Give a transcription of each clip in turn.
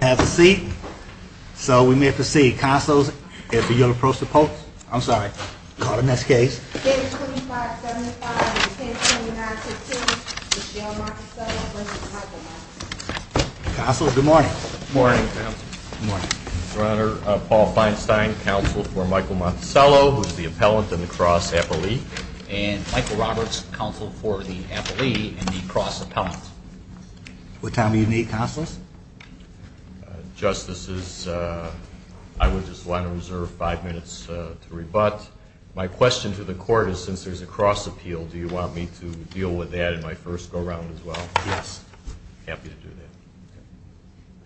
has a seat. So we may proceed consoles. If you'll approach the post, I'm sorry, call the next case. Castle. Good morning. Morning. Runner. Paul Feinstein, counsel for Michael Monticello, who's the appellant in the cross happily and Michael Roberts, counsel for the cross appellant. What time do you need consoles? Justices. I would just want to reserve five minutes to rebut. My question to the court is, since there's a cross appeal, do you want me to deal with that in my first go around as well? Yes, happy to do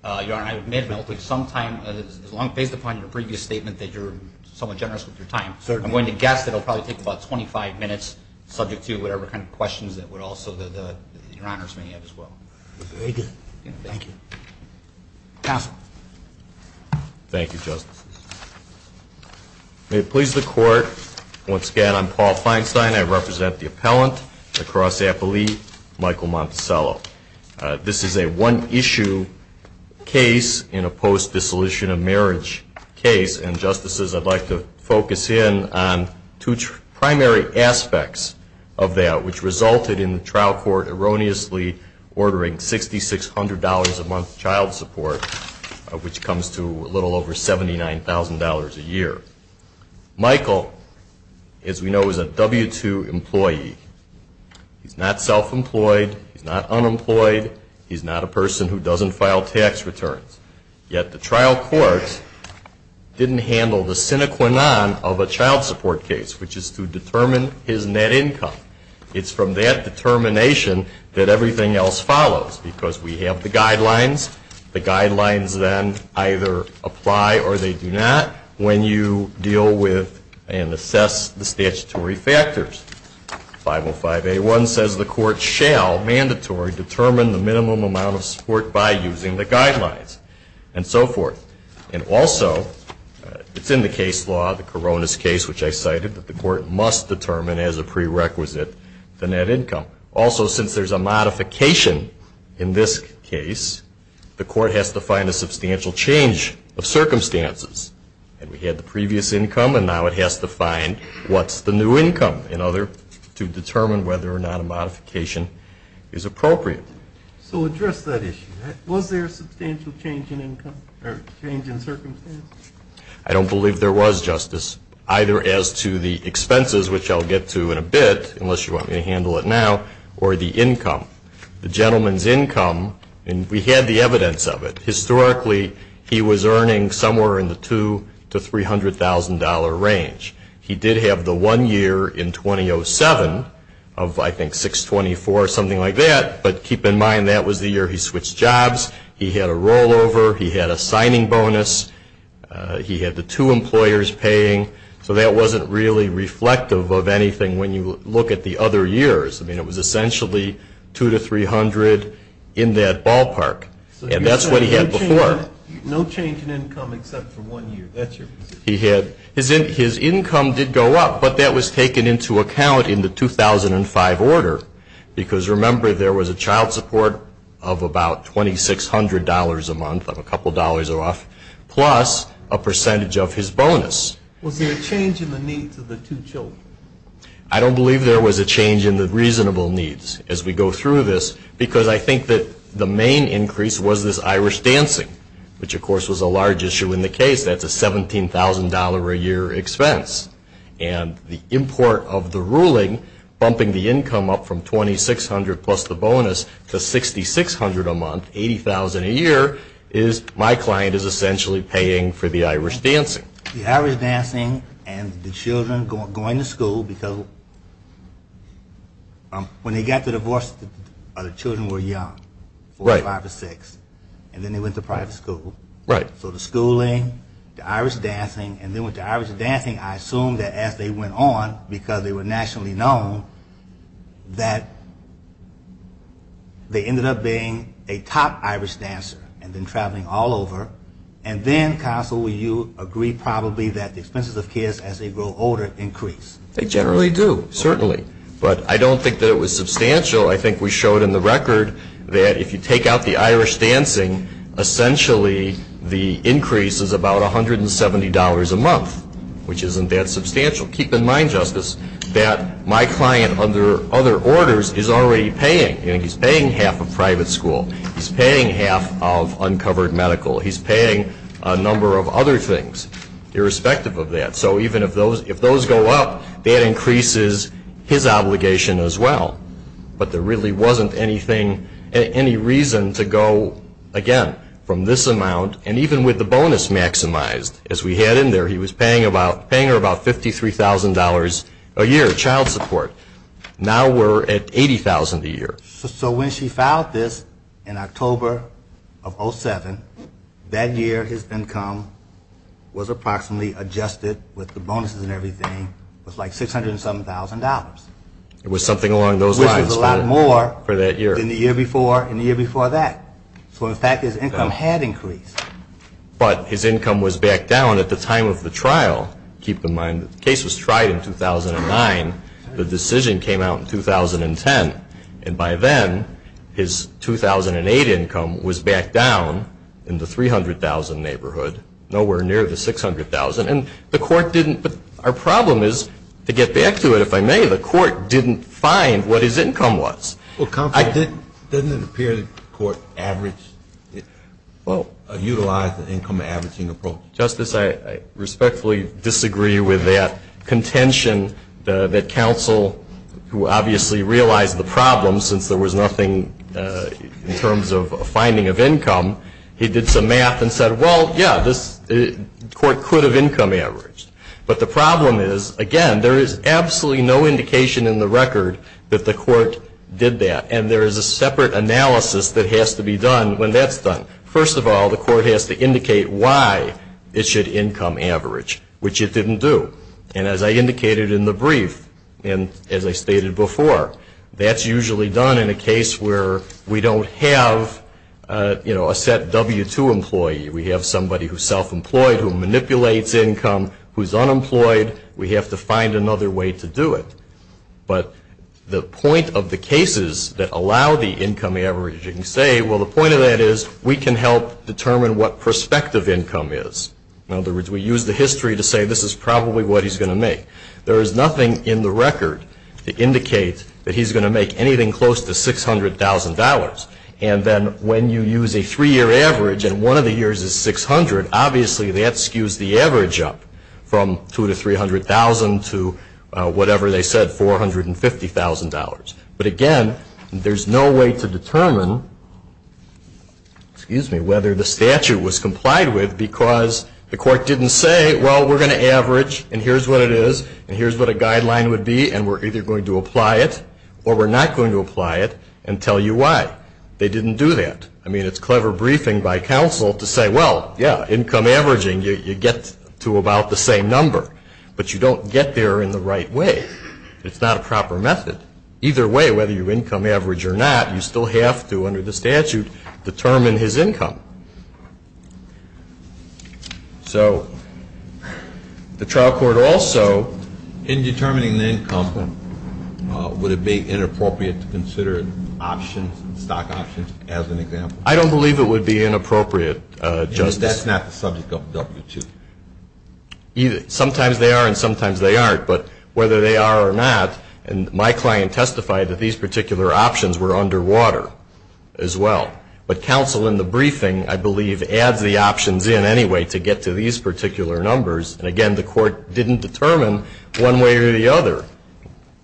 that. Your honor, I may have some time as long based upon your previous statement that you're somewhat generous with your time. I'm going to guess that it'll probably take about 25 minutes subject to whatever kind of questions that would also the your honors may have as well. Castle. Thank you, Justice. May it please the court. Once again, I'm Paul Feinstein. I represent the appellant, the cross appellee, Michael Monticello. This is a one issue case in a post-dissolution of marriage case. And justices, I'd like to focus in on two primary aspects of that, which resulted in the trial court erroneously ordering $6,600 a month child support, which comes to a little over $79,000. A year. Michael, as we know, is a W-2 employee. He's not self-employed. He's not unemployed. He's not a person who doesn't file tax returns. Yet the trial court didn't handle the sine qua non of a child support case, which is to determine his net income. It's from that determination that everything else follows, because we have the guidelines. The guidelines then either apply or they do not when you deal with and assess the statutory factors. 505A1 says the court shall mandatory determine the minimum amount of support by using the guidelines and so forth. And also, it's in the case law, the Corona's case, which I cited, that the court must determine as a prerequisite the net income. Also, since there's a modification in this case, the court has to find a substantial change of circumstances. And we had the previous income, and now it has to find what's the new income in order to determine whether or not a modification is appropriate. So address that issue. Was there a substantial change in income or change in circumstances? I don't believe there was, Justice, either as to the expenses, which I'll get to in a bit, unless you want me to handle it now, or the income. The gentleman's income, and we had the evidence of it. Historically, he was earning somewhere in the $200,000 to $300,000 range. He did have the one year in 2007 of, I think, $624,000, something like that. But keep in mind, that was the year he switched jobs. He had a rollover. He had a signing bonus. He had the two employers paying. So that wasn't really reflective of anything when you look at the other years. I mean, it was essentially $200,000 to $300,000 in that ballpark. And that's what he had before. No change in income except for one year. That's your position. His income did go up, but that was taken into account in the 2005 order. Because remember, there was a child support of about $2,600 a month, of a couple dollars off, plus a percentage of his bonus. Was there a change in the needs of the two children? I don't believe there was a change in the reasonable needs as we go through this. Because I think that the main increase was this Irish dancing, which of course was a large issue in the case. That's a $17,000 a year expense. And the import of the ruling bumping the income up from $2,600 plus the bonus to $6,600 a month, $80,000 a year, is my client is essentially paying for the Irish dancing. The Irish dancing and the children going to school, because when they got the divorce, the children were young, four, five, or six, and then they went to private school. Right. So the schooling, the Irish dancing, and then with the Irish dancing, I assume that as they went on, because they were nationally known, that they ended up being a top Irish dancer and then traveling all over. And then, counsel, would you agree probably that the expenses of kids as they grow older increase? They generally do, certainly. But I don't think that it was substantial. I think we showed in the record that if you take out the Irish dancing, essentially the increase is about $170 a month, which isn't that substantial. Keep in mind, Justice, that my client, under other orders, is already paying, and he's paying half of private school. He's paying half of uncovered medical. He's paying a number of other things, irrespective of that. So even if those go up, that increases his obligation as well. But there really wasn't any reason to go, again, from this amount, and even with the bonus maximized, as we had in there, he was paying her about $53,000 a year, child support. Now we're at $80,000 a year. So when she filed this in October of 07, that year his income was approximately adjusted with the bonuses and everything, it was like $607,000. It was something along those lines. Which was a lot more than the year before and the year before that. So in fact, his income had increased. But his income was back down at the time of the trial. Keep in mind, the case was tried in 2009. The decision came out in 2010. And by then, his 2008 income was back down in the $300,000 neighborhood, nowhere near the $600,000. And the court didn't, our problem is, to get back to it, if I may, the court didn't find what his income was. Well, Counselor, doesn't it appear that the court averaged, utilized the income averaging approach? Justice, I respectfully disagree with that contention that Counsel, who obviously realized the problem, since there was nothing in terms of finding of income. He did some math and said, well, yeah, this court could have income averaged. But the problem is, again, there is absolutely no indication in the record that the court did that. And there is a separate analysis that has to be done when that's done. First of all, the court has to indicate why it should income average, which it didn't do. And as I indicated in the brief, and as I stated before, that's usually done in a case where we don't have, you know, a set W-2 employee. We have somebody who's self-employed, who manipulates income, who's unemployed. We have to find another way to do it. But the point of the cases that allow the income averaging, say, well, the point of that is we can help determine what prospective income is. In other words, we use the history to say this is probably what he's going to make. There is nothing in the record that indicates that he's going to make anything close to $600,000. And then when you use a three-year average, and one of the years is 600, obviously that skews the average up from $200,000 to $300,000 to whatever they said, $450,000. But again, there's no way to determine, excuse me, whether the statute was complied with because the court didn't say, well, we're going to average, and here's what it is, and here's what a guideline would be, and we're either going to apply it or we're not going to apply it and tell you why. They didn't do that. I mean, it's clever briefing by counsel to say, well, yeah, income averaging, you get to about the same number, but you don't get there in the right way. It's not a proper method. Either way, whether you're income average or not, you still have to, under the statute, determine his income. So the trial court also, in determining the income, would it be inappropriate to consider options, stock options, as an example? I don't believe it would be inappropriate, Justice. That's not the subject of W-2. Sometimes they are and sometimes they aren't, but whether they are or not, and my client testified that these particular options were under water as well. But counsel in the briefing, I believe, adds the options in anyway to get to these particular numbers, and again, the court didn't determine one way or the other.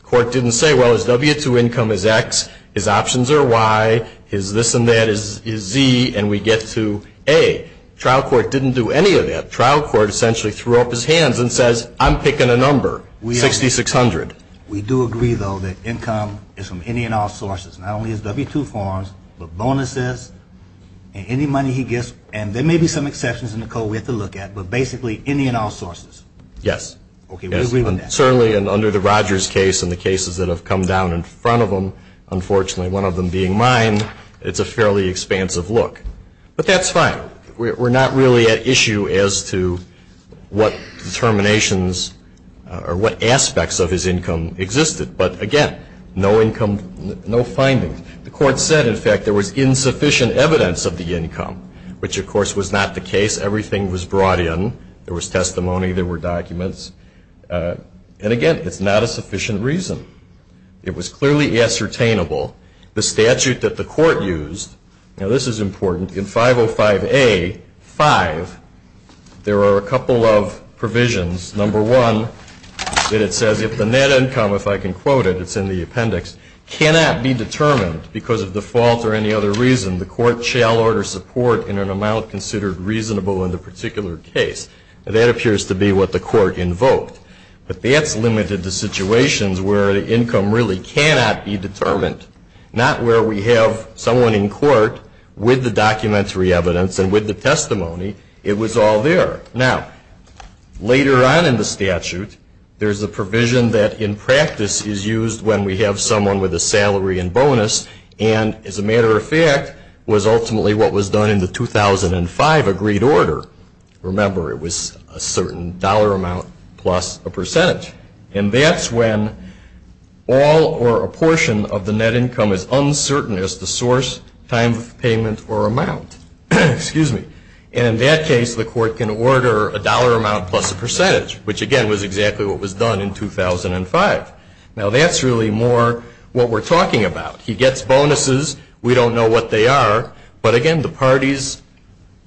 Court didn't say, well, his W-2 income is X, his options are Y, his this and that is Z, and we get to A. Trial court didn't do any of that. Trial court essentially threw up his hands and says, I'm picking a number, 6,600. We do agree, though, that income is from any and all sources, not only his W-2 forms, but bonuses, and any money he gets, and there may be some exceptions in the code we have to look at, but basically, any and all sources. Yes. Okay, we agree on that. Certainly, and under the Rogers case and the cases that have come down in front of him, unfortunately, one of them being mine, it's a fairly expansive look. But that's fine. We're not really at issue as to what determinations or what aspects of his income existed, but again, no income, no findings. The court said, in fact, there was insufficient evidence of the income, which, of course, was not the case. Everything was brought in. There was testimony. There were documents, and again, it's not a sufficient reason. It was clearly ascertainable. The statute that the court used, now, this is important, in 505A.5, there are a couple of provisions. Number one, that it says, if the net income, if I can quote it, it's in the appendix, cannot be determined because of default or any other reason, the court shall order support in an amount considered reasonable in the particular case. That appears to be what the court invoked, but that's limited to situations where the income really cannot be determined. Not where we have someone in court with the documentary evidence and with the testimony, it was all there. Now, later on in the statute, there's a provision that, in practice, is used when we have someone with a salary and bonus and, as a matter of fact, was ultimately what was done in the 2005 agreed order. Remember, it was a certain dollar amount plus a percent. And that's when all or a portion of the net income is uncertain as to source, time of payment, or amount, excuse me. And in that case, the court can order a dollar amount plus a percentage, which, again, was exactly what was done in 2005. Now, that's really more what we're talking about. He gets bonuses. We don't know what they are. But, again, the parties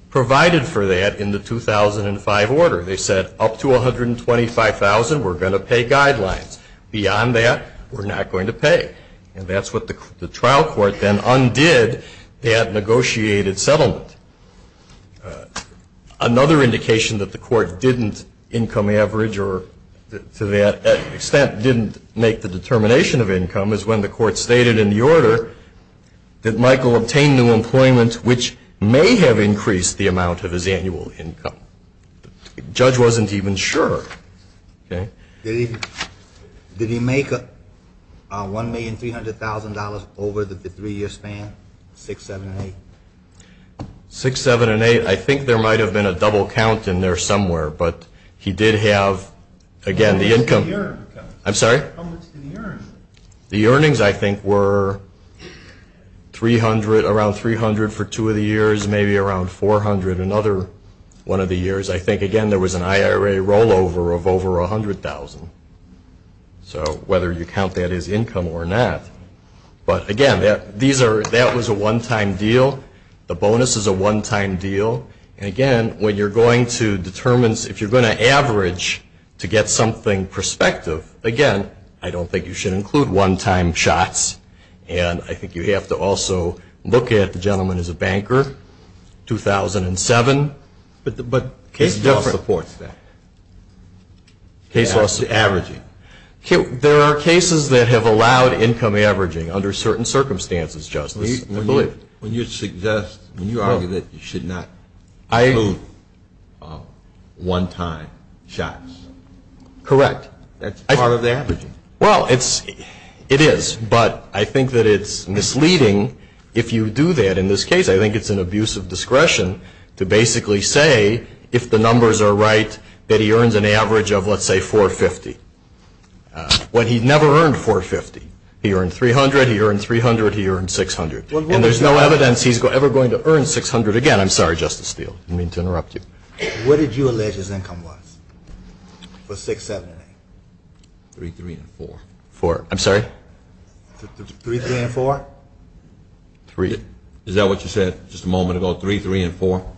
provided for that in the 2005 order. They said, up to $125,000, we're going to pay guidelines. Beyond that, we're not going to pay. And that's what the trial court then undid that negotiated settlement. Another indication that the court didn't income average or, to that extent, didn't make the determination of income is when the court stated in the order that Michael obtained new employment, which may have increased the amount of his annual income. The judge wasn't even sure. Did he make $1,300,000 over the three-year span, six, seven, and eight? Six, seven, and eight. I think there might have been a double count in there somewhere. But he did have, again, the income. I'm sorry? The earnings, I think, were around $300,000 for two of the years, maybe around $400,000. And another one of the years, I think, again, there was an IRA rollover of over $100,000. So whether you count that as income or not. But, again, that was a one-time deal. The bonus is a one-time deal. And, again, when you're going to determine, if you're going to average to get something prospective, again, I don't think you should include one-time shots. And I think you have to also look at the gentleman is a banker, 2007. But the case law supports that. Case law supports that. Averaging. There are cases that have allowed income averaging under certain circumstances, Justice, I believe. When you suggest, when you argue that you should not include one-time shots. Correct. That's part of the averaging. Well, it's, it is, but I think that it's misleading if you do that. In this case, I think it's an abuse of discretion to basically say, if the numbers are right, that he earns an average of, let's say, $450,000. When he never earned $450,000. He earned $300,000, he earned $300,000, he earned $600,000. And there's no evidence he's ever going to earn $600,000 again. I'm sorry, Justice Steele, I didn't mean to interrupt you. What did you allege his income was for 6, 7, and 8? 3, 3, and 4. 4, I'm sorry? 3, 3, and 4? 3. Is that what you said just a moment ago, 3, 3, and 4?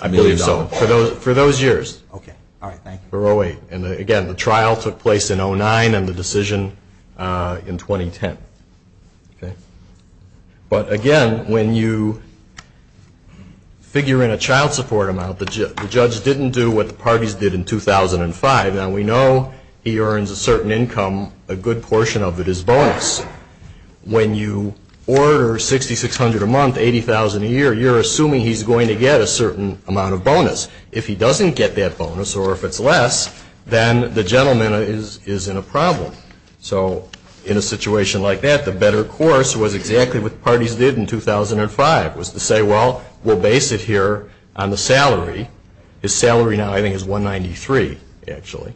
I believe so, for those, for those years. Okay, all right, thank you. For 08, and again, the trial took place in 09, and the decision in 2010, okay? But again, when you figure in a child support amount, the judge didn't do what the parties did in 2005. Now, we know he earns a certain income, a good portion of it is bonus. When you order 6,600 a month, 80,000 a year, you're assuming he's going to get a certain amount of bonus. If he doesn't get that bonus, or if it's less, then the gentleman is in a problem. So, in a situation like that, the better course was exactly what the parties did in 2005, was to say, well, we'll base it here on the salary. His salary now, I think, is 193, actually,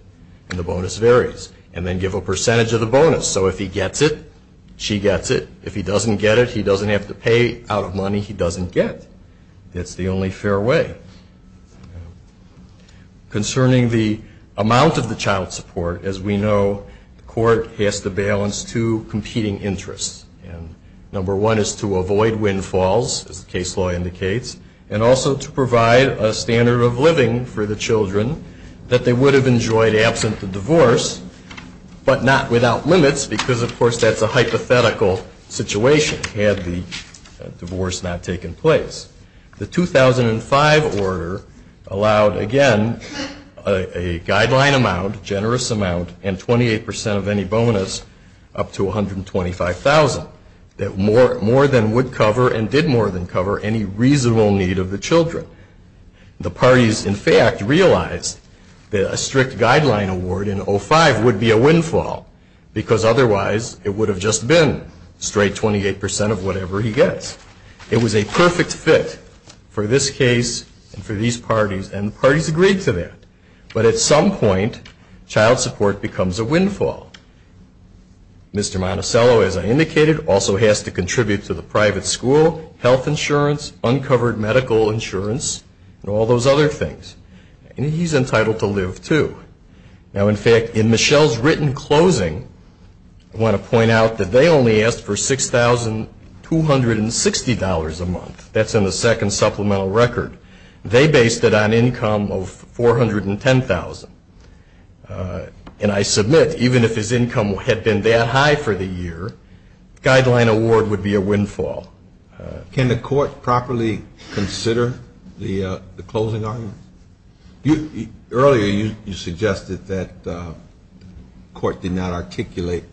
and the bonus varies, and then give a percentage of the bonus. So, if he gets it, she gets it. If he doesn't get it, he doesn't have to pay out of money he doesn't get. That's the only fair way. Concerning the amount of the child support, as we know, the court has to balance two competing interests. Number one is to avoid windfalls, as the case law indicates, and also to provide a standard of living for the children that they would have enjoyed absent the divorce, but not without limits, because, of course, that's a hypothetical situation had the divorce not taken place. The 2005 order allowed, again, a guideline amount, generous amount, and 28% of any bonus up to $125,000, that more than would cover, and did more than cover, any reasonable need of the children. The parties, in fact, realized that a strict guideline award in 2005 would be a windfall, because otherwise it would have just been straight 28% of whatever he gets. It was a perfect fit for this case and for these parties, and the parties agreed to that. But at some point, child support becomes a windfall. Mr. Monticello, as I indicated, also has to contribute to the private school, health insurance, uncovered medical insurance, and all those other things, and he's entitled to live, too. Now, in fact, in Michelle's written closing, I want to point out that they only asked for $6,260 a month. That's in the second supplemental record. They based it on income of $410,000, and I submit, even if his income had been that high for the year, guideline award would be a windfall. Can the court properly consider the closing argument? Earlier, you suggested that the court did not articulate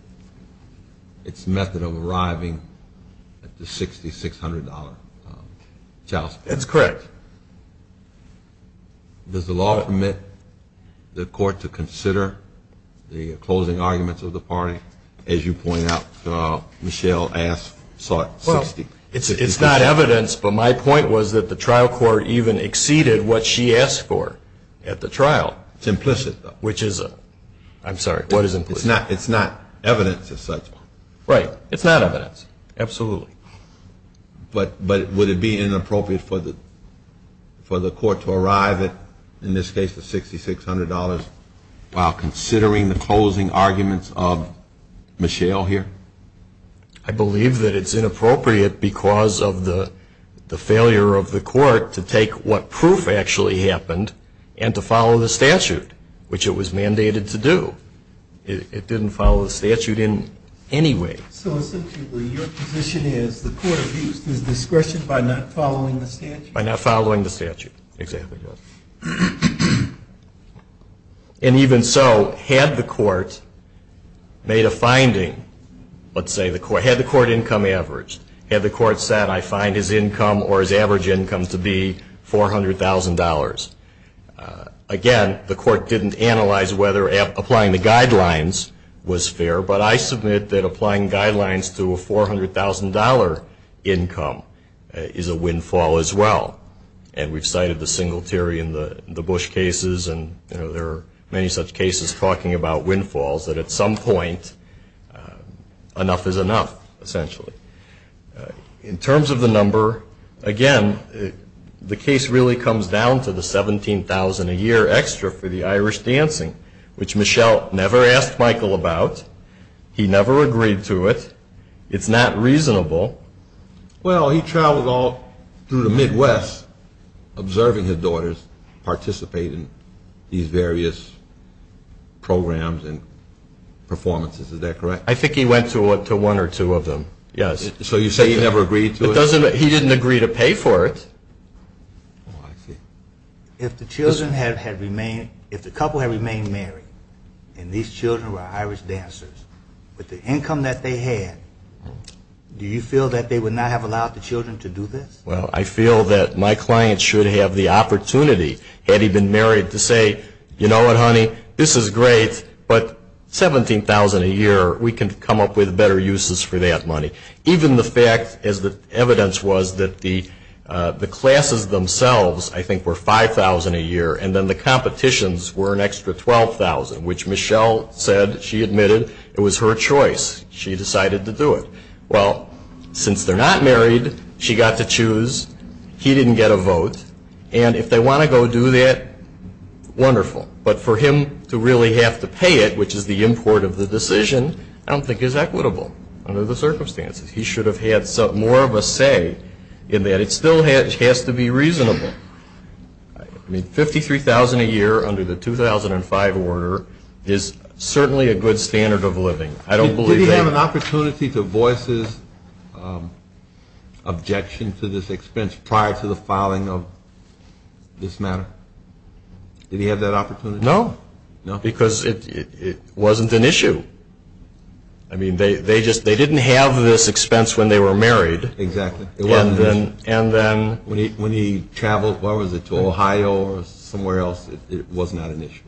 its method of arriving at the $6,600 child support. That's correct. Does the law permit the court to consider the closing arguments of the party? As you point out, Michelle asked for $6,600. Well, it's not evidence, but my point was that the trial court even exceeded what she asked for at the trial. It's implicit, though. Which is a, I'm sorry, what is implicit? It's not evidence as such. Right. It's not evidence. Absolutely. But would it be inappropriate for the court to arrive at, in this case, the $6,600 while considering the closing arguments of Michelle here? I believe that it's inappropriate because of the failure of the court to take what proof actually happened and to follow the statute, which it was mandated to do. It didn't follow the statute in any way. So, essentially, your position is the court abused his discretion by not following the statute? By not following the statute. Exactly, yes. And even so, had the court made a finding, let's say, had the court income averaged, had the court said, I find his income or his average income to be $400,000. Again, the court didn't analyze whether applying the guidelines was fair, but I submit that applying guidelines to a $400,000 income is a windfall as well. And we've cited the Singletary and the Bush cases, and there are many such cases talking about windfalls that at some point, enough is enough, essentially. In terms of the number, again, the case really comes down to the $17,000 a year extra for the Irish dancing, which Michelle never asked Michael about. He never agreed to it. It's not reasonable. Well, he traveled all through the Midwest observing his daughters participate in these various programs and performances. Is that correct? I think he went to one or two of them. Yes. So you say he never agreed to it? He didn't agree to pay for it. If the couple had remained married and these children were Irish dancers, with the income that they had, do you feel that they would not have allowed the children to do this? Well, I feel that my client should have the opportunity, had he been married, to say, you know what, honey, this is great, but $17,000 a year, we can come up with better uses for that money. Even the fact, as the evidence was, that the classes themselves, I think, were $5,000 a year, and then the competitions were an extra $12,000, which Michelle said she admitted it was her choice. She decided to do it. Well, since they're not married, she got to choose. He didn't get a vote. And if they want to go do that, wonderful. But for him to really have to pay it, which is the import of the decision, I don't think is equitable under the circumstances. He should have had more of a say in that. It still has to be reasonable. I mean, $53,000 a year under the 2005 order is certainly a good standard of living. I don't believe that. Did he have an opportunity to voice his objection to this expense prior to the filing of this matter? Did he have that opportunity? No, because it wasn't an issue. I mean, they didn't have this expense when they were married. Exactly. It wasn't an issue. And then? When he traveled, what was it, to Ohio or somewhere else, it was not an issue.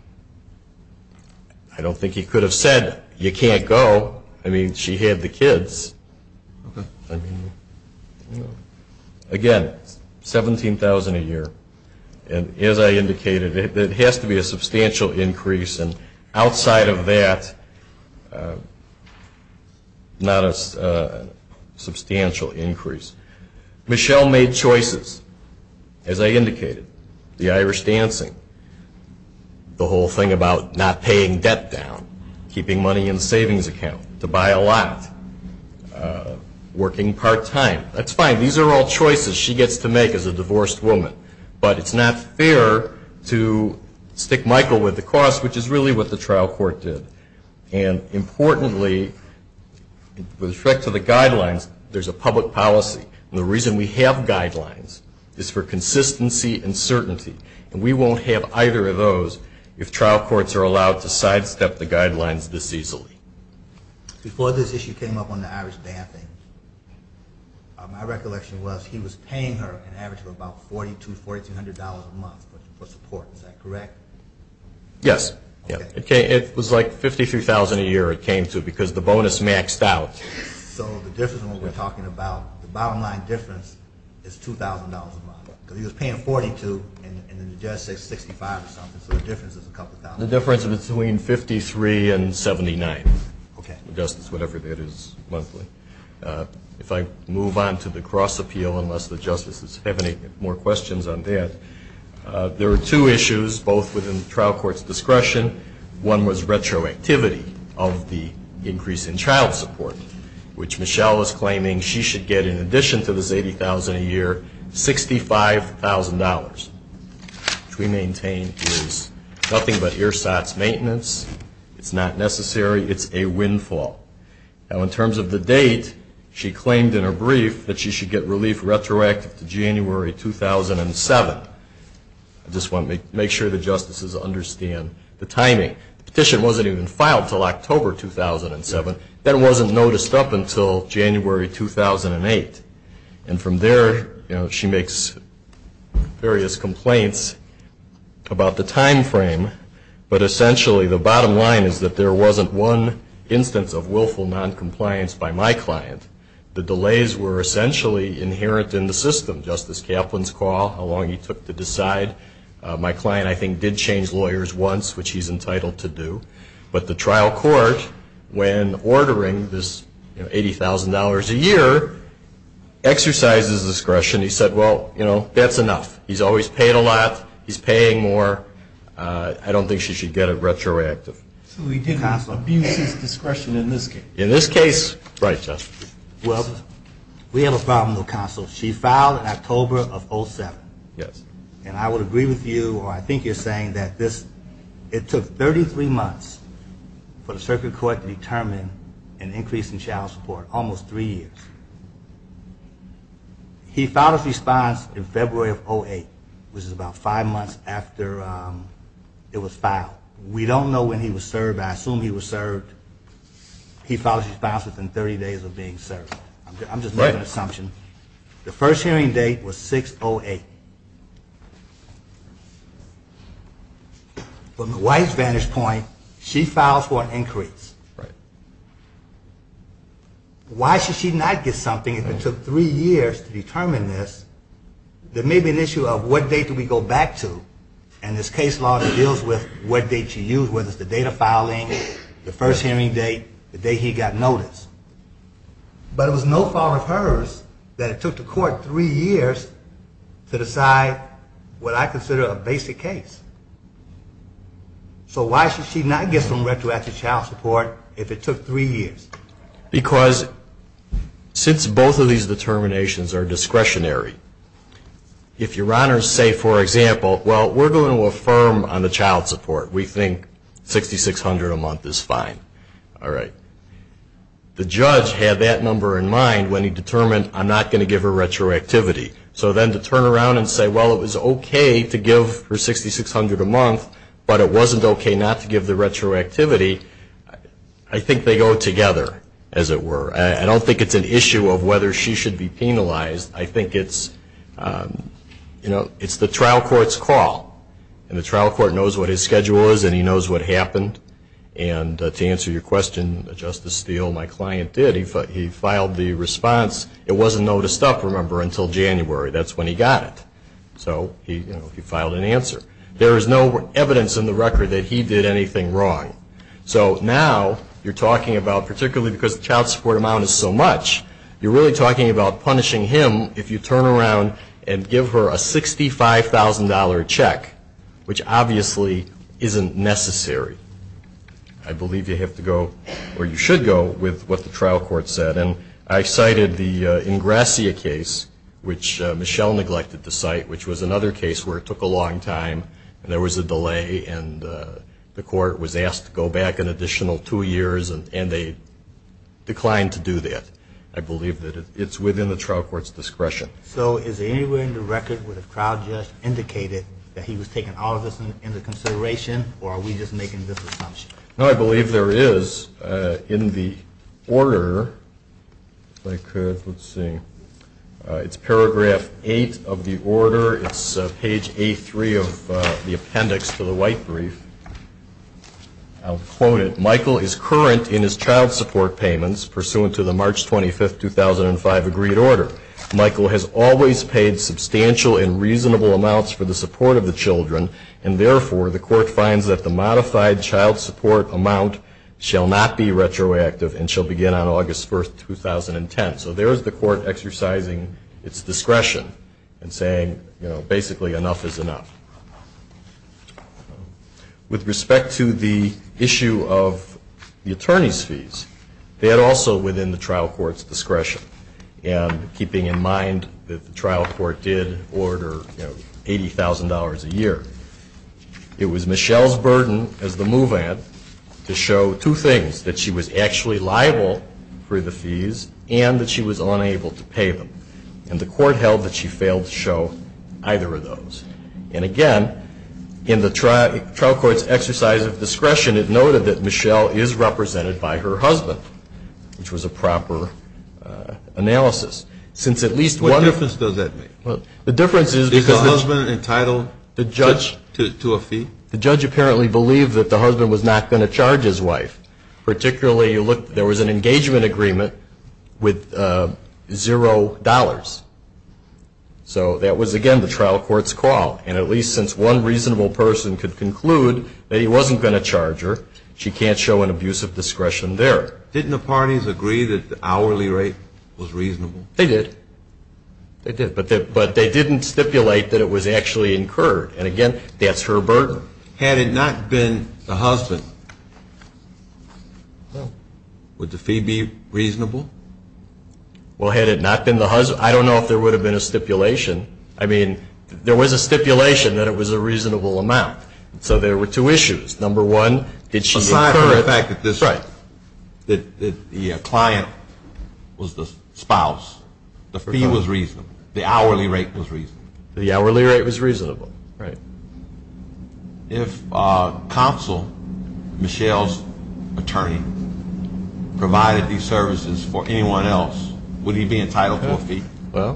I don't think he could have said, you can't go. I mean, she had the kids. Again, $17,000 a year. And as I indicated, it has to be a substantial increase. And outside of that, not a substantial increase. Michelle made choices, as I indicated. The Irish dancing. The whole thing about not paying debt down. Keeping money in the savings account. To buy a lot. Working part-time. That's fine. These are all choices she gets to make as a divorced woman. But it's not fair to stick Michael with the cost, which is really what the trial court did. And importantly, with respect to the guidelines, there's a public policy. And the reason we have guidelines is for consistency and certainty. And we won't have either of those if trial courts are allowed to sidestep the guidelines this easily. Before this issue came up on the Irish dancing, my recollection was he was paying her an average of about $4,200 a month for support. Is that correct? Yes. It was like $53,000 a year it came to, because the bonus maxed out. So the difference when we're talking about the bottom line difference is $2,000 a month. Because he was paying $42,000 and the judge said $65,000 or something. So the difference is a couple thousand. The difference is between $53,000 and $79,000. Okay. The justice, whatever that is, monthly. If I move on to the cross appeal, unless the justices have any more questions on that. There were two issues, both within the trial court's discretion. One was retroactivity of the increase in child support, which Michelle was claiming she should get in addition to this $80,000 a year, $65,000. Which we maintain is nothing but ERSAT's maintenance. It's not necessary. It's a windfall. Now in terms of the date, she claimed in her brief that she should get relief retroactive to January 2007. I just want to make sure the justices understand the timing. The petition wasn't even filed until October 2007. That wasn't noticed up until January 2008. And from there, you know, she makes various complaints about the time frame. But essentially, the bottom line is that there wasn't one instance of willful noncompliance by my client. The delays were essentially inherent in the system. Justice Kaplan's call, how long he took to decide. My client, I think, did change lawyers once, which he's entitled to do. But the trial court, when ordering this $80,000 a year, exercises discretion. He said, well, you know, that's enough. He's always paid a lot. He's paying more. I don't think she should get it retroactive. So he didn't abuse his discretion in this case? In this case, right, Justice. Well, we have a problem, though, counsel. She filed in October of 07. Yes. And I would agree with you, or I think you're saying that this, it took 33 months for the circuit court to determine an increase in child support, almost three years. He filed his response in February of 08, which is about five months after it was filed. We don't know when he was served. I assume he was served. He filed his response within 30 days of being served. I'm just making an assumption. The first hearing date was 06-08. But my wife's vantage point, she filed for an increase. Right. Why should she not get something if it took three years to determine this? There may be an issue of what date do we go back to, and this case law deals with what date she used, whether it's the date of filing, the first hearing date, the day he got notice. But it was no fault of hers that it took the court three years to decide what I consider a basic case. So why should she not get some retroactive child support if it took three years? Because since both of these determinations are discretionary, if your honors say, for example, well, we're going to affirm on the child support. We think 6,600 a month is fine. All right. The judge had that number in mind when he determined, I'm not going to give her retroactivity. So then to turn around and say, well, it was okay to give her 6,600 a month, but it wasn't okay not to give the retroactivity. I think they go together, as it were. I don't think it's an issue of whether she should be penalized. I think it's, you know, it's the trial court's call. And the trial court knows what his schedule is, and he knows what happened. And to answer your question, Justice Steele, my client did, he filed the response. It wasn't noticed up, remember, until January. That's when he got it. So he, you know, he filed an answer. There is no evidence in the record that he did anything wrong. So now you're talking about, particularly because the child support amount is so much, you're really talking about punishing him if you turn around and give her a $65,000 check, which obviously isn't necessary. I believe you have to go, or you should go, with what the trial court said. And I cited the Ingrassia case, which Michelle neglected to cite, which was another case where it took a long time, and there was a delay, and the court was asked to go back an additional two years, and they declined to do that. I believe that it's within the trial court's discretion. So is there anywhere in the record where the trial judge indicated that he was taking all of this into consideration, or are we just making this assumption? No, I believe there is in the order, if I could, let's see. It's paragraph 8 of the order. It's page A3 of the appendix to the white brief. I'll quote it. Michael is current in his child support payments pursuant to the March 25, 2005, agreed order. Michael has always paid substantial and reasonable amounts for the support of the children, and therefore the court finds that the modified child support amount shall not be retroactive and shall begin on August 1, 2010. So there is the court exercising its discretion and saying, you know, basically enough is enough. With respect to the issue of the attorney's fees, that also within the trial court's discretion, and keeping in mind that the trial court did order, you know, $80,000 a year. It was Michelle's burden as the move-in to show two things, that she was actually liable for the fees and that she was unable to pay them. And the court held that she failed to show either of those. And again, in the trial court's exercise of discretion, it noted that Michelle is represented by her husband, which was a proper analysis. Since at least one- What difference does that make? Well, the difference is- Is the husband entitled to a fee? The judge apparently believed that the husband was not going to charge his wife. Particularly, you look, there was an engagement agreement with zero dollars. So that was, again, the trial court's call. And at least since one reasonable person could conclude that he wasn't going to charge her, she can't show an abuse of discretion there. Didn't the parties agree that the hourly rate was reasonable? They did. They did. But they didn't stipulate that it was actually incurred. And again, that's her burden. Had it not been the husband, would the fee be reasonable? Well, had it not been the husband, I don't know if there would have been a stipulation. I mean, there was a stipulation that it was a reasonable amount. So there were two issues. Number one, did she incur it? Aside from the fact that the client was the spouse, the fee was reasonable. The hourly rate was reasonable. The hourly rate was reasonable. Right. If counsel, Michelle's attorney, provided these services for anyone else, would he be entitled to a fee? Well,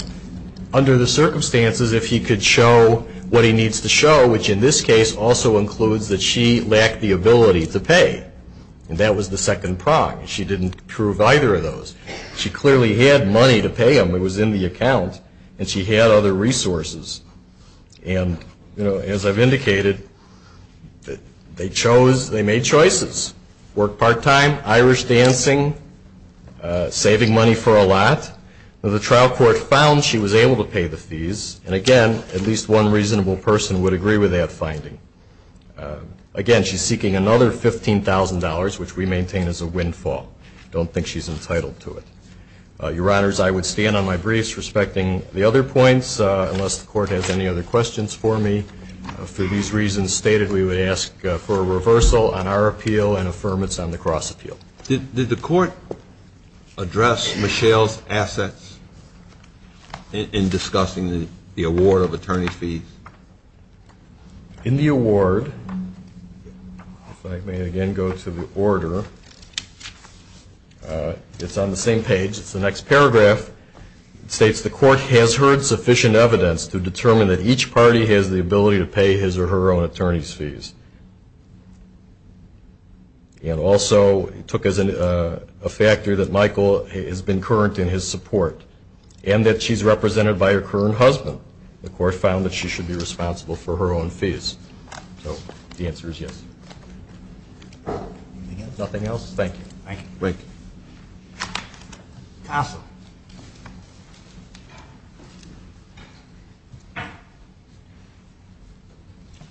under the circumstances, if he could show what he needs to show, which in this case also includes that she lacked the ability to pay. And that was the second prong. She didn't prove either of those. She clearly had money to pay him. It was in the account. And she had other resources. And, you know, as I've indicated, they chose, they made choices. Worked part-time, Irish dancing, saving money for a lot. The trial court found she was able to pay the fees. And again, at least one reasonable person would agree with that finding. Again, she's seeking another $15,000, which we maintain as a windfall. Don't think she's entitled to it. Your Honors, I would stand on my briefs respecting the other points, unless the Court has any other questions for me. For these reasons stated, we would ask for a reversal on our appeal and affirmance on the cross-appeal. Did the Court address Michelle's assets in discussing the award of attorney fees? In the award, if I may again go to the order, it's on the same page. It's the next paragraph. It states the Court has heard sufficient evidence to determine that each party has the ability to pay his or her own attorney's fees. And also, it took as a factor that Michael has been current in his support. And that she's represented by her current husband. The Court found that she should be responsible for her own fees. So the answer is yes. Nothing else? Thank you. Thank you. Thank you. Counsel.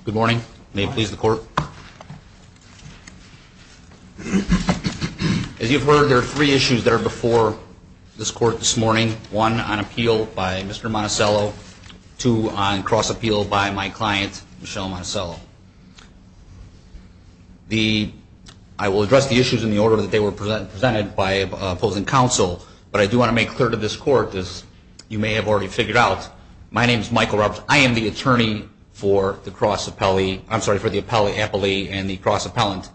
Good morning. May it please the Court. As you've heard, there are three issues that are before this Court this morning. One on appeal by Mr. Monticello. Two on cross-appeal by my client, Michelle Monticello. I will address the issues in the order that they were presented by opposing counsel. But I do want to make clear to this Court, as you may have already figured out, my name is Michael Roberts. I am the attorney for the cross-appellee. I'm sorry, for the appellee and the cross-appellant.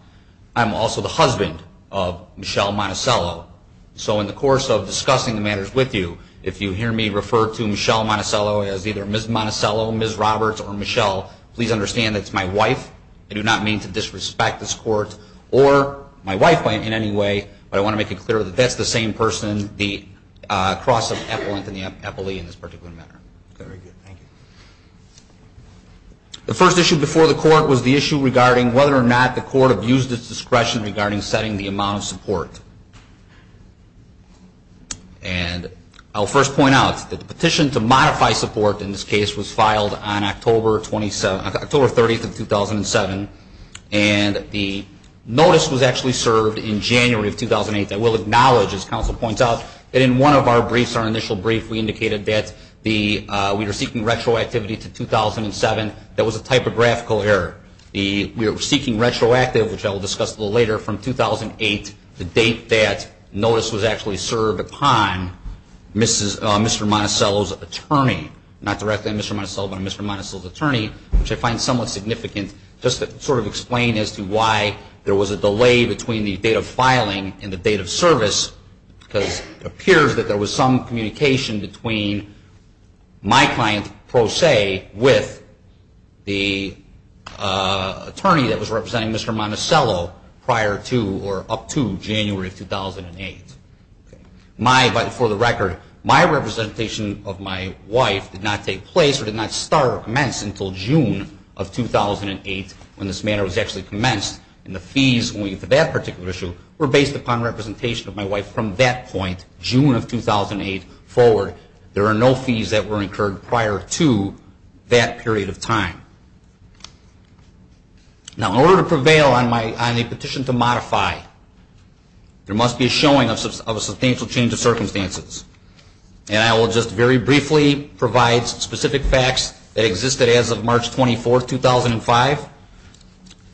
I'm also the husband of Michelle Monticello. So in the course of discussing the matters with you, if you hear me refer to Michelle Monticello as either Ms. Monticello, Ms. Roberts, or Michelle, please understand that's my wife. I do not mean to disrespect this Court or my wife in any way. But I want to make it clear that that's the same person, the cross-appellant and the appellee in this particular matter. The first issue before the Court was the issue regarding whether or not the Court abused its discretion regarding setting the amount of support. And I'll first point out that the petition to modify support in this case was filed on October 30th of 2007. And the notice was actually served in January of 2008. I will acknowledge, as counsel points out, that in one of our briefs, our initial brief, we indicated that we were seeking retroactivity to 2007. That was a typographical error. We were seeking retroactive, which I will discuss a little later, from 2008, the date that notice was actually served upon Mr. Monticello's attorney, not directly Mr. Monticello, but Mr. Monticello's attorney, which I find somewhat significant, just to sort of explain as to why there was a delay between the date of filing and the date of service, because it appears that there was some communication between my client, Pro Se, with the attorney that was representing Mr. Monticello prior to, or up to, January of 2008. My, for the record, my representation of my wife did not take place, or did not start or commence, until June of 2008, when this matter was actually commenced. And the fees, when we get to that particular issue, were based upon representation of my wife from that point, June of 2008 forward. There are no fees that were incurred prior to that period of time. Now, in order to prevail on my, on the petition to modify, there must be a showing of a substantial change of circumstances. And I will just very briefly provide specific facts that existed as of March 24, 2005,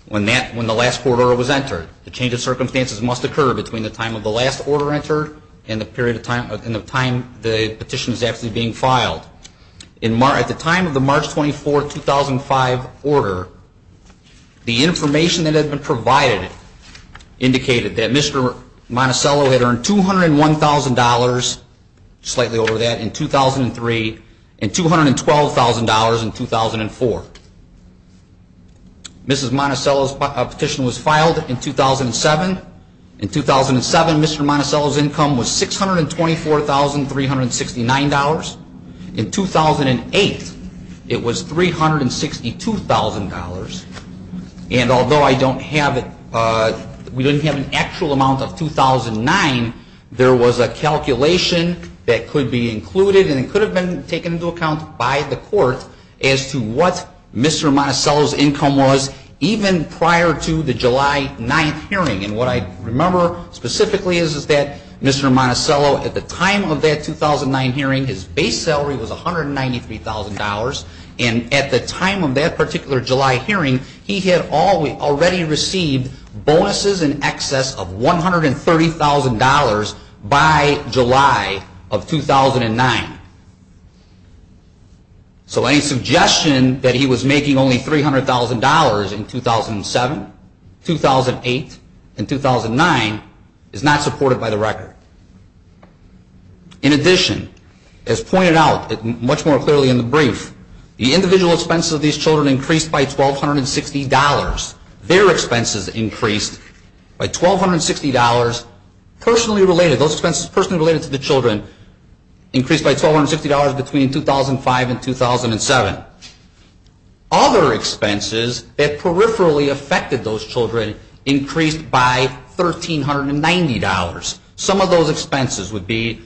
when that, when the last court order was entered. The change of circumstances must occur between the time of the last order entered, and the period of time, and the time the petition is actually being filed. In Mar-, at the time of the March 24, 2005 order, the information that had been provided indicated that Mr. Monticello had earned $201,000 slightly over that, in 2003, and $212,000 in 2004. Mrs. Monticello's petition was filed in 2007. In 2007, Mr. Monticello's income was $624,369. In 2008, it was $362,000. And although I don't have it, we didn't have an actual amount of 2009, there was a calculation that could be included, and it could have been taken into account by the court, as to what Mr. Monticello's income was, even prior to the July 9th hearing. And what I remember specifically is, is that Mr. Monticello, at the time of that 2009 hearing, his base salary was $193,000. And at the time of that particular July hearing, he had already received bonuses in excess of $130,000 by July of 2009. So any suggestion that he was making only $300,000 in 2007, 2008, and 2009, is not supported by the record. In addition, as pointed out much more clearly in the brief, the individual expenses of these children increased by $1,260. Their expenses increased by $1,260, personally related, those expenses personally related to the children, increased by $1,260 between 2005 and 2007. Other expenses that peripherally affected those children increased by $1,390. Some of those expenses would be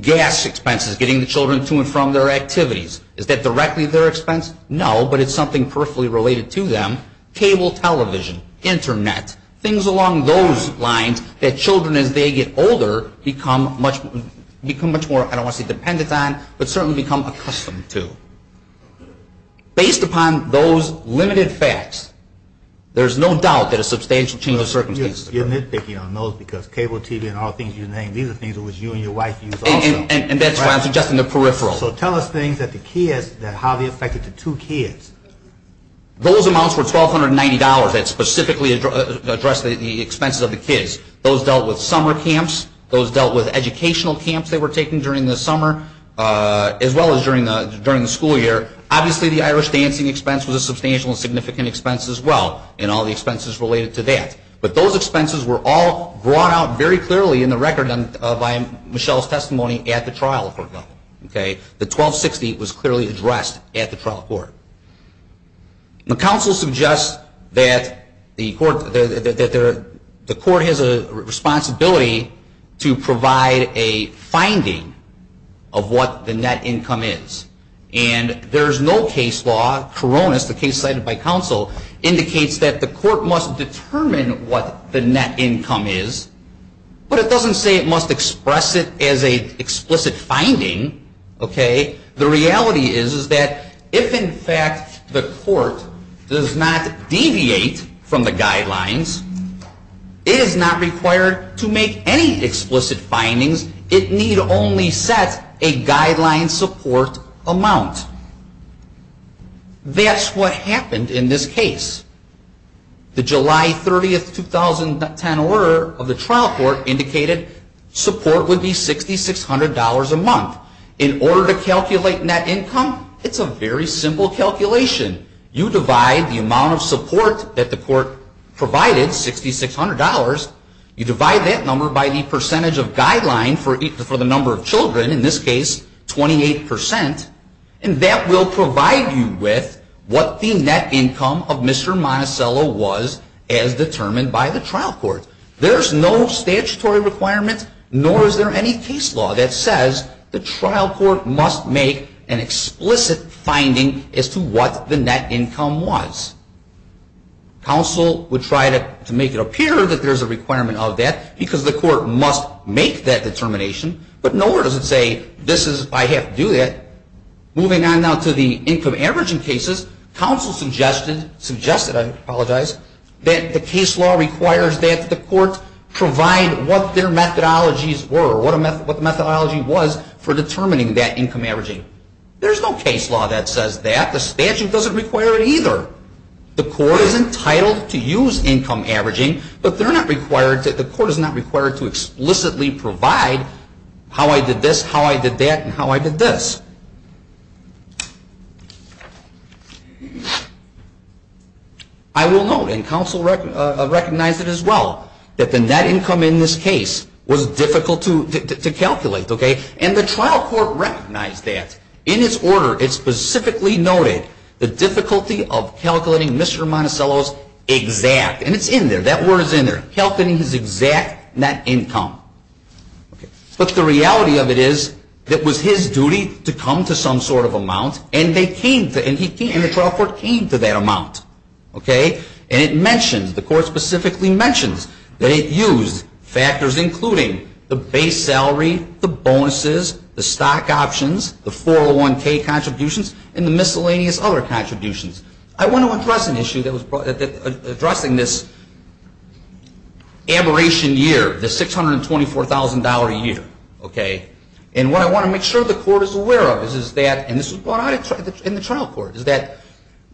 gas expenses, getting the children to and from their activities. Is that directly their expense? No, but it's something perfectly related to them. Cable television, Internet, things along those lines that children as they get older become much more, I don't want to say dependent on, but certainly become accustomed to. Based upon those limited facts, there's no doubt that a substantial change of circumstances. You're nitpicking on those because cable TV and all things you name, these are things that you and your wife use also. And that's why I'm suggesting the peripheral. So tell us things that Harvey affected the two kids. Those amounts were $1,290 that specifically addressed the expenses of the kids. Those dealt with summer camps, those dealt with educational camps they were taking during the summer, as well as during the school year. Obviously the Irish dancing expense was a substantial and significant expense as well, and all the expenses related to that. But those expenses were all brought out very clearly in the record by Michelle's testimony at the trial. The $1,260 was clearly addressed at the trial court. The counsel suggests that the court has a responsibility to provide a finding of what the net income is. And there's no case law, Karonis, the case cited by counsel, indicates that the court must determine what the net income is, but it doesn't say it must express it as an explicit finding, the reality is that if, in fact, the court does not deviate from the guidelines, it is not required to make any explicit findings. It need only set a guideline support amount. That's what happened in this case. The July 30, 2010 order of the trial court indicated support would be $6,600 a month. In order to calculate net income, it's a very simple calculation. You divide the amount of support that the court provided, $6,600, you divide that number by the percentage of guideline for the number of children, in this case, 28%, and that will provide you with what the net income of Mr. Monticello was as determined by the trial court. There's no statutory requirement, nor is there any case law that says the trial court must make an explicit finding as to what the net income was. Counsel would try to make it appear that there's a requirement of that because the court must make that determination, but nowhere does it say, I have to do that. Moving on now to the income averaging cases, counsel suggested that the case law requires that the court provide what their methodologies were, what the methodology was for determining that income averaging. There's no case law that says that. The statute doesn't require it either. The court is entitled to use income averaging, but the court is not required to explicitly provide how I did this, how I did that, and how I did this. I will note, and counsel recognized it as well, that the net income in this case was difficult to calculate. And the trial court recognized that. In its order, it specifically noted the difficulty of calculating Mr. Monticello's exact, and it's in there, that word is in there, calculating his exact net income. But the reality of it is, it was his duty to come to some sort of amount, and the trial court came to that amount. And it mentions, the court specifically mentions, that it used factors including the base salary, the bonuses, the stock options, the 401k contributions, and the miscellaneous other contributions. I want to address an issue that was brought up, addressing this aberration year, the $624,000 a year, okay? And what I want to make sure the court is aware of is that, and this was brought out in the trial court, is that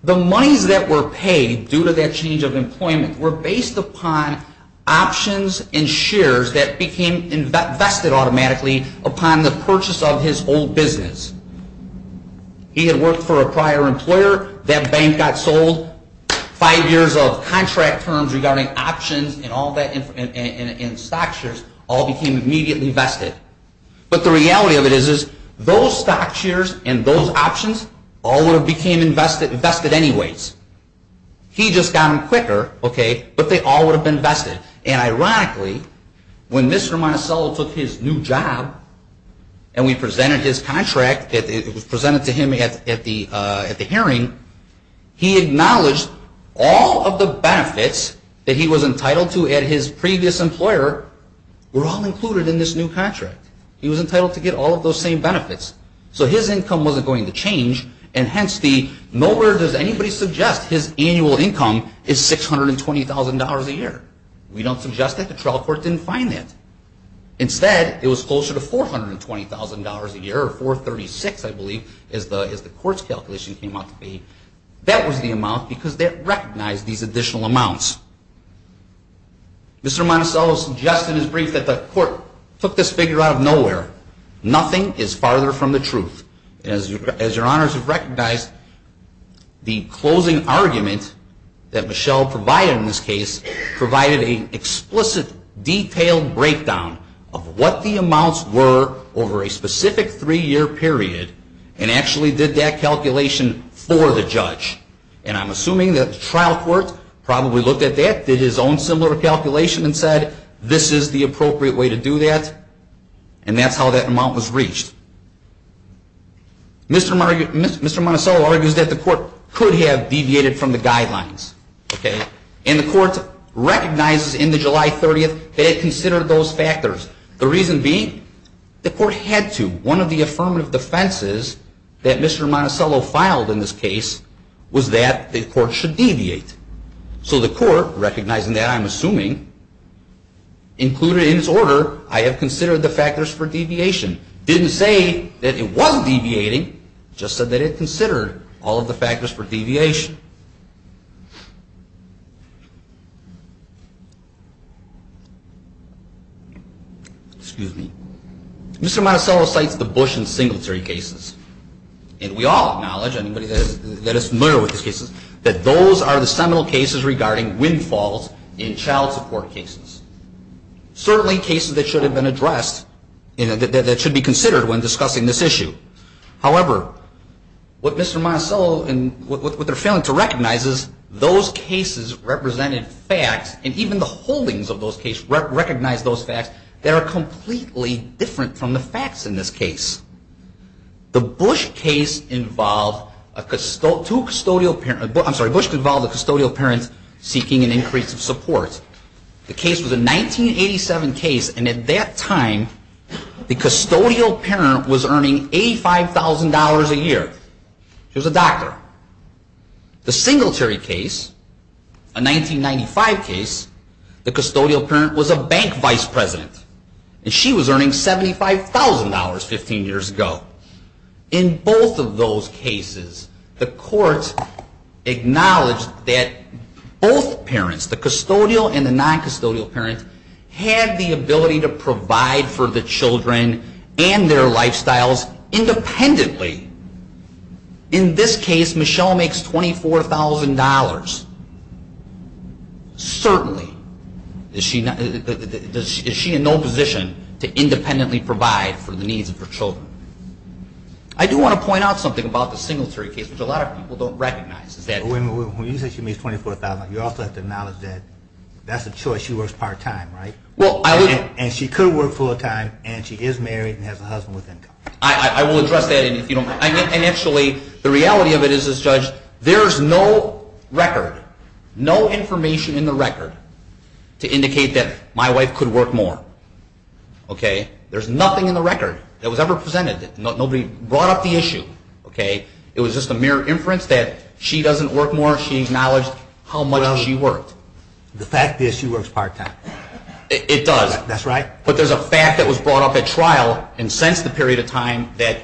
the monies that were paid due to that change of employment were based upon options and shares that became vested automatically upon the purchase of his old business. He had worked for a prior employer, that bank got sold, five years of contract terms regarding options and all that, and stock shares, all became immediately vested. But the reality of it is, those stock shares and those options, all would have became invested anyways. He just got them quicker, okay, but they all would have been vested. And ironically, when Mr. Monticello took his new job, and we presented his contract, it was presented to him at the hearing, he acknowledged all of the benefits that he was entitled to at his previous employer were all included in this new contract. So his income wasn't going to change, and hence, nowhere does anybody suggest his annual income is $620,000 a year. We don't suggest that, the trial court didn't find that. Instead, it was closer to $420,000 a year, or $436,000 I believe, as the court's calculation came out to be. That was the amount, because they recognized these additional amounts. Mr. Monticello suggested in his brief that the court took this figure out of nowhere. Nothing is farther from the truth. As your honors have recognized, the closing argument that Monticello provided in this case provided an explicit, detailed breakdown of what the amounts were over a specific three-year period, and actually did that calculation for the judge. And I'm assuming that the trial court probably looked at that, did his own similar calculation and said, this is the appropriate way to do that, and that's how that amount was reached. Mr. Monticello argues that the court could have deviated from the guidelines. And the court recognizes in the July 30th that it considered those factors. The reason being, the court had to. One of the affirmative defenses that Mr. Monticello filed in this case was that the court should deviate. So the court, recognizing that, I'm assuming, included in its order, I have considered the factors for deviation. Didn't say that it wasn't deviating, just said that it considered all of the factors for deviation. Excuse me. Mr. Monticello cites the Bush and Singletary cases. And we all acknowledge, anybody that is familiar with these cases, that those are the seminal cases regarding windfalls in child support cases. Certainly cases that should have been addressed, that should be considered when discussing this issue. However, what Mr. Monticello, and what they're failing to recognize is those cases represented facts, and even the holdings of those cases recognize those facts that are completely different from the facts in this case. The Bush case involved two custodial parents, I'm sorry, Bush involved a custodial parent seeking an increase of support. The case was a 1987 case, and at that time, the custodial parent was earning $85,000 a year. She was a doctor. The Singletary case, a 1995 case, the custodial parent was a bank vice president. And she was earning $75,000 15 years ago. In both of those cases, the court acknowledged that both parents, the custodial and the non-custodial parent, had the ability to provide for the children and their lifestyles independently. In this case, Michelle makes $24,000. Certainly. Is she in no position to independently provide for the needs of her children. I do want to point out something about the Singletary case, which a lot of people don't recognize. When you say she makes $24,000, you also have to acknowledge that that's a choice. She works part-time, right? And she could work full-time, and she is married and has a husband with income. I will address that. And actually, the reality of it is, Judge, there's no record, no information in the record to indicate that my wife could work more. Okay? There's nothing in the record that was ever presented. Nobody brought up the issue. Okay? It was just a mere inference that she doesn't work more. She acknowledged how much she worked. The fact is, she works part-time. It does. That's right. But there's a fact that was brought up at trial and since the period of time that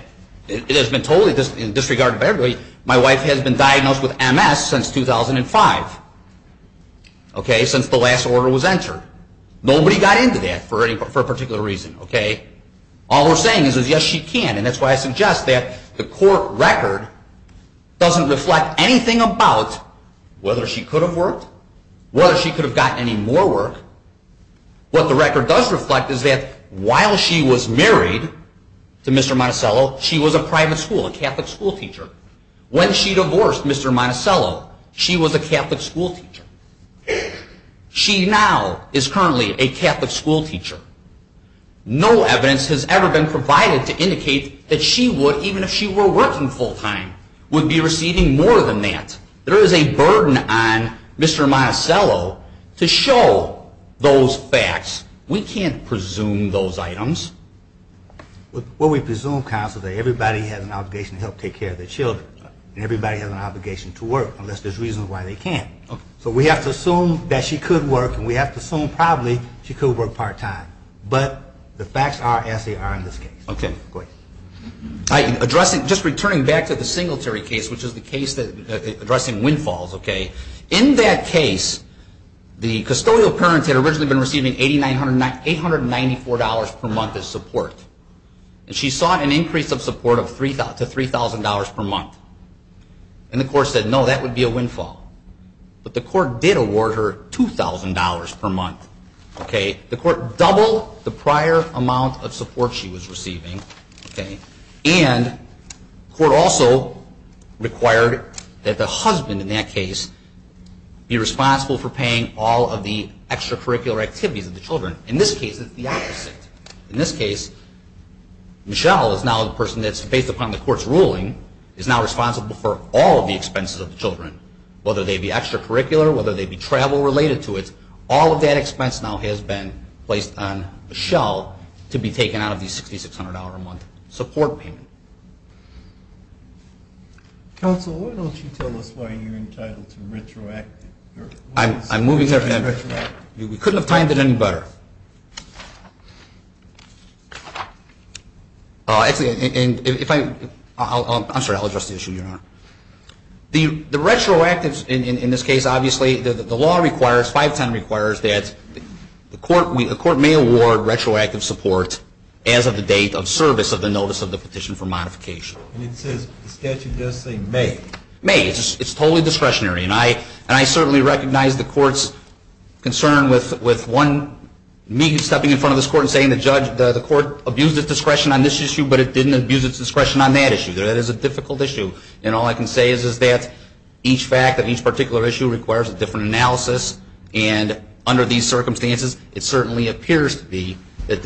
it has been totally disregarded by everybody, my wife has been diagnosed with MS since 2005. Okay? Since the last order was entered. Nobody got into that for a particular reason. Okay? All we're saying is, yes, she can. And that's why I suggest that the court record doesn't reflect anything about whether she could have worked whether she could have gotten any more work. What the record does reflect is that while she was married to Mr. Monticello, she was a private school, a Catholic school teacher. When she divorced Mr. Monticello, she was a Catholic school teacher. She now is currently a Catholic school teacher. No evidence has ever been provided to indicate that she would, even if she were working full-time, would be receiving more than that. There is a burden on Mr. Monticello to show those facts. We can't presume those items. What we presume, counsel, is that everybody has an obligation to help take care of their children. And everybody has an obligation to work unless there's reasons why they can't. So we have to assume that she could work and we have to assume probably she could work part-time. But the facts are as they are in this case. Okay. I'm addressing, just returning back to the Singletary case, which is the case that, addressing windfalls, okay? In that case, the custodial parents had originally been receiving $894 per month as support. And she sought an increase of support to $3,000 per month. And the court said, no, that would be a windfall. But the court did award her $2,000 per month. Okay. The court doubled the prior amount of support she was receiving. Okay. And the court also required that the husband in that case be responsible for paying all of the extracurricular activities of the children. In this case, it's the opposite. In this case, Michelle is now the person that's, based upon the court's ruling, is now responsible for all of the expenses of the children. Whether they be extracurricular, whether they be travel related to it, all of that expense now has been placed on Michelle to be taken out of the $6,600 a month support payment. Counsel, why don't you tell us why you're entitled to retroactive? I'm moving there, Ben. We couldn't have timed it any better. Actually, and if I, I'm sorry, I'll address the issue, Your Honor. The retroactive, in this case, obviously, the law requires, 510 requires, that the court may award retroactive support as of the date of service of the notice of the petition from Michelle. And it says, the statute does say may. May. It's totally discretionary, and I, and I certainly recognize the court's concern with one, me stepping in front of this court and saying the judge, the court abused its discretion on this issue, but it didn't abuse its discretion on that issue. That is a difficult issue. And all I can say is that each fact of each particular issue requires a different analysis. And under these circumstances, it certainly appears to be that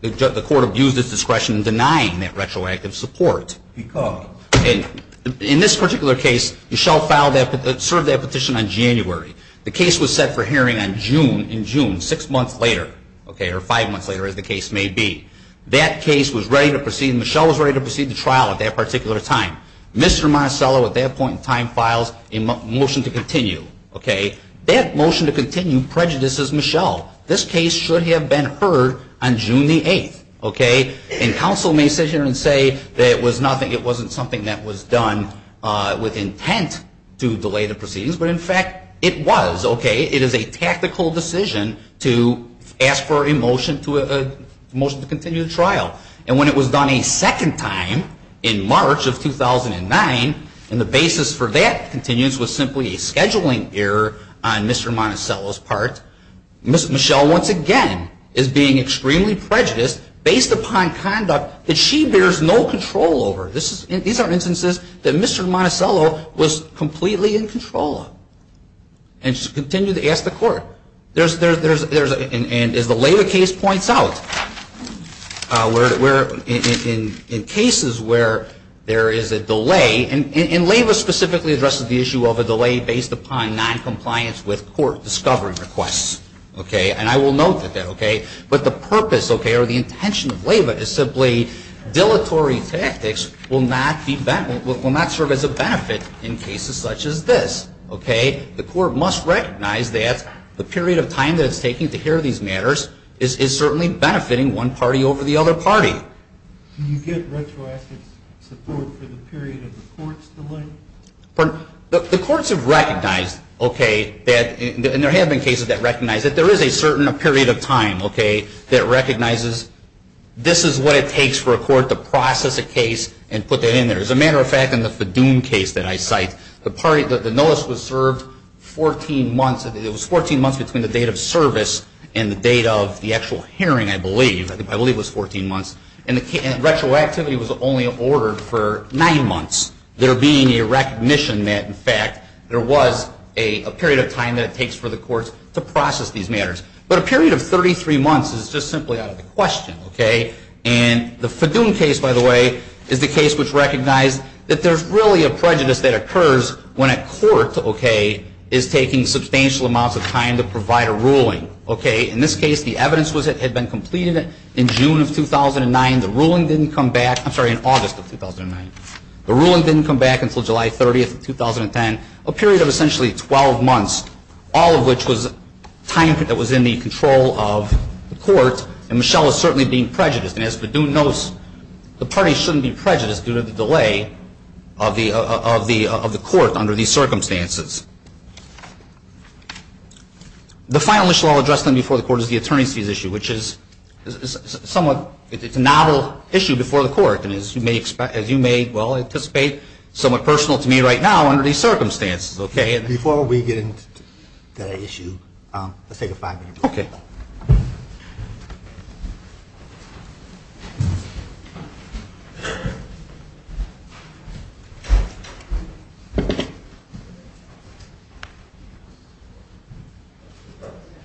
the court abused its discretion in denying that retroactive support. Because? In this particular case, Michelle filed that, served that petition on January. The case was set for hearing on June, in June, six months later, okay, or five months later, as the case may be. That case was ready to proceed, Michelle was ready to proceed the trial at that particular time. Mr. Marcello, at that point in time, files a motion to continue, okay? That motion to continue prejudices Michelle. This case should have been heard on June the 8th, okay? And counsel may sit here and say that it was nothing, it wasn't something that was done with intent to delay the proceedings. But in fact, it was, okay? It is a tactical decision to ask for a motion to continue the trial. And when it was done a second time, in March of 2009, and the basis for that continued was simply a scheduling error on Mr. Marcello's part, Michelle, once again, is being extremely prejudiced based upon conduct that she bears no control over. This is, these are instances that Mr. Marcello was completely in control of. And she continued to ask the court. There's, there's, there's, and as the Leyva case points out, where, in cases where there is a delay, and Leyva specifically addresses the issue of a delay based upon noncompliance with court discovery requests, okay, and I will note that, okay? But the purpose, okay, or the intention of Leyva is simply dilatory tactics will not be, will not serve as a benefit in cases such as this, okay? The court must recognize that the period of time that it's taking to hear these matters is certainly benefiting one party over the other party. Can you give retroactive support for the period of the court's delay? Pardon? The courts have recognized, okay, that, and there have been cases that recognize that there is a certain period of time, okay, that recognizes this is what it takes for a court to process a case and put that in there. As a matter of fact, in the Fadoom case that I cite, the party, the notice was served 14 months, it was 14 months between the date of service and the date of the actual hearing, I believe, I believe it was 14 months, and the retroactivity was only ordered for 9 months. There being a recognition that, in fact, there was a period of time that it takes for the courts to process these matters. But a period of 33 months is just simply out of the question, okay? And the Fadoom case, by the way, is the case which recognized that there's really a prejudice that occurs when a court, okay, is taking substantial amounts of time to provide a ruling. Okay, in this case, the evidence was that it had been completed in June of 2009, the ruling didn't come back, I'm sorry, in August of 2009. The ruling didn't come back until July 30th of 2010, a period of essentially 12 months, all of which was time that was in the control of the court, and Michelle is certainly being prejudiced, and as Fadoom notes, the party shouldn't be prejudiced due to the delay of the court under these circumstances. The final issue I'll address then before the court is the attorneys' fees issue, which is somewhat, it's a novel issue before the court, and as you may, well, anticipate, somewhat personal to me right now under these circumstances, okay? Before we get into that issue, let's take a five-minute break. Okay.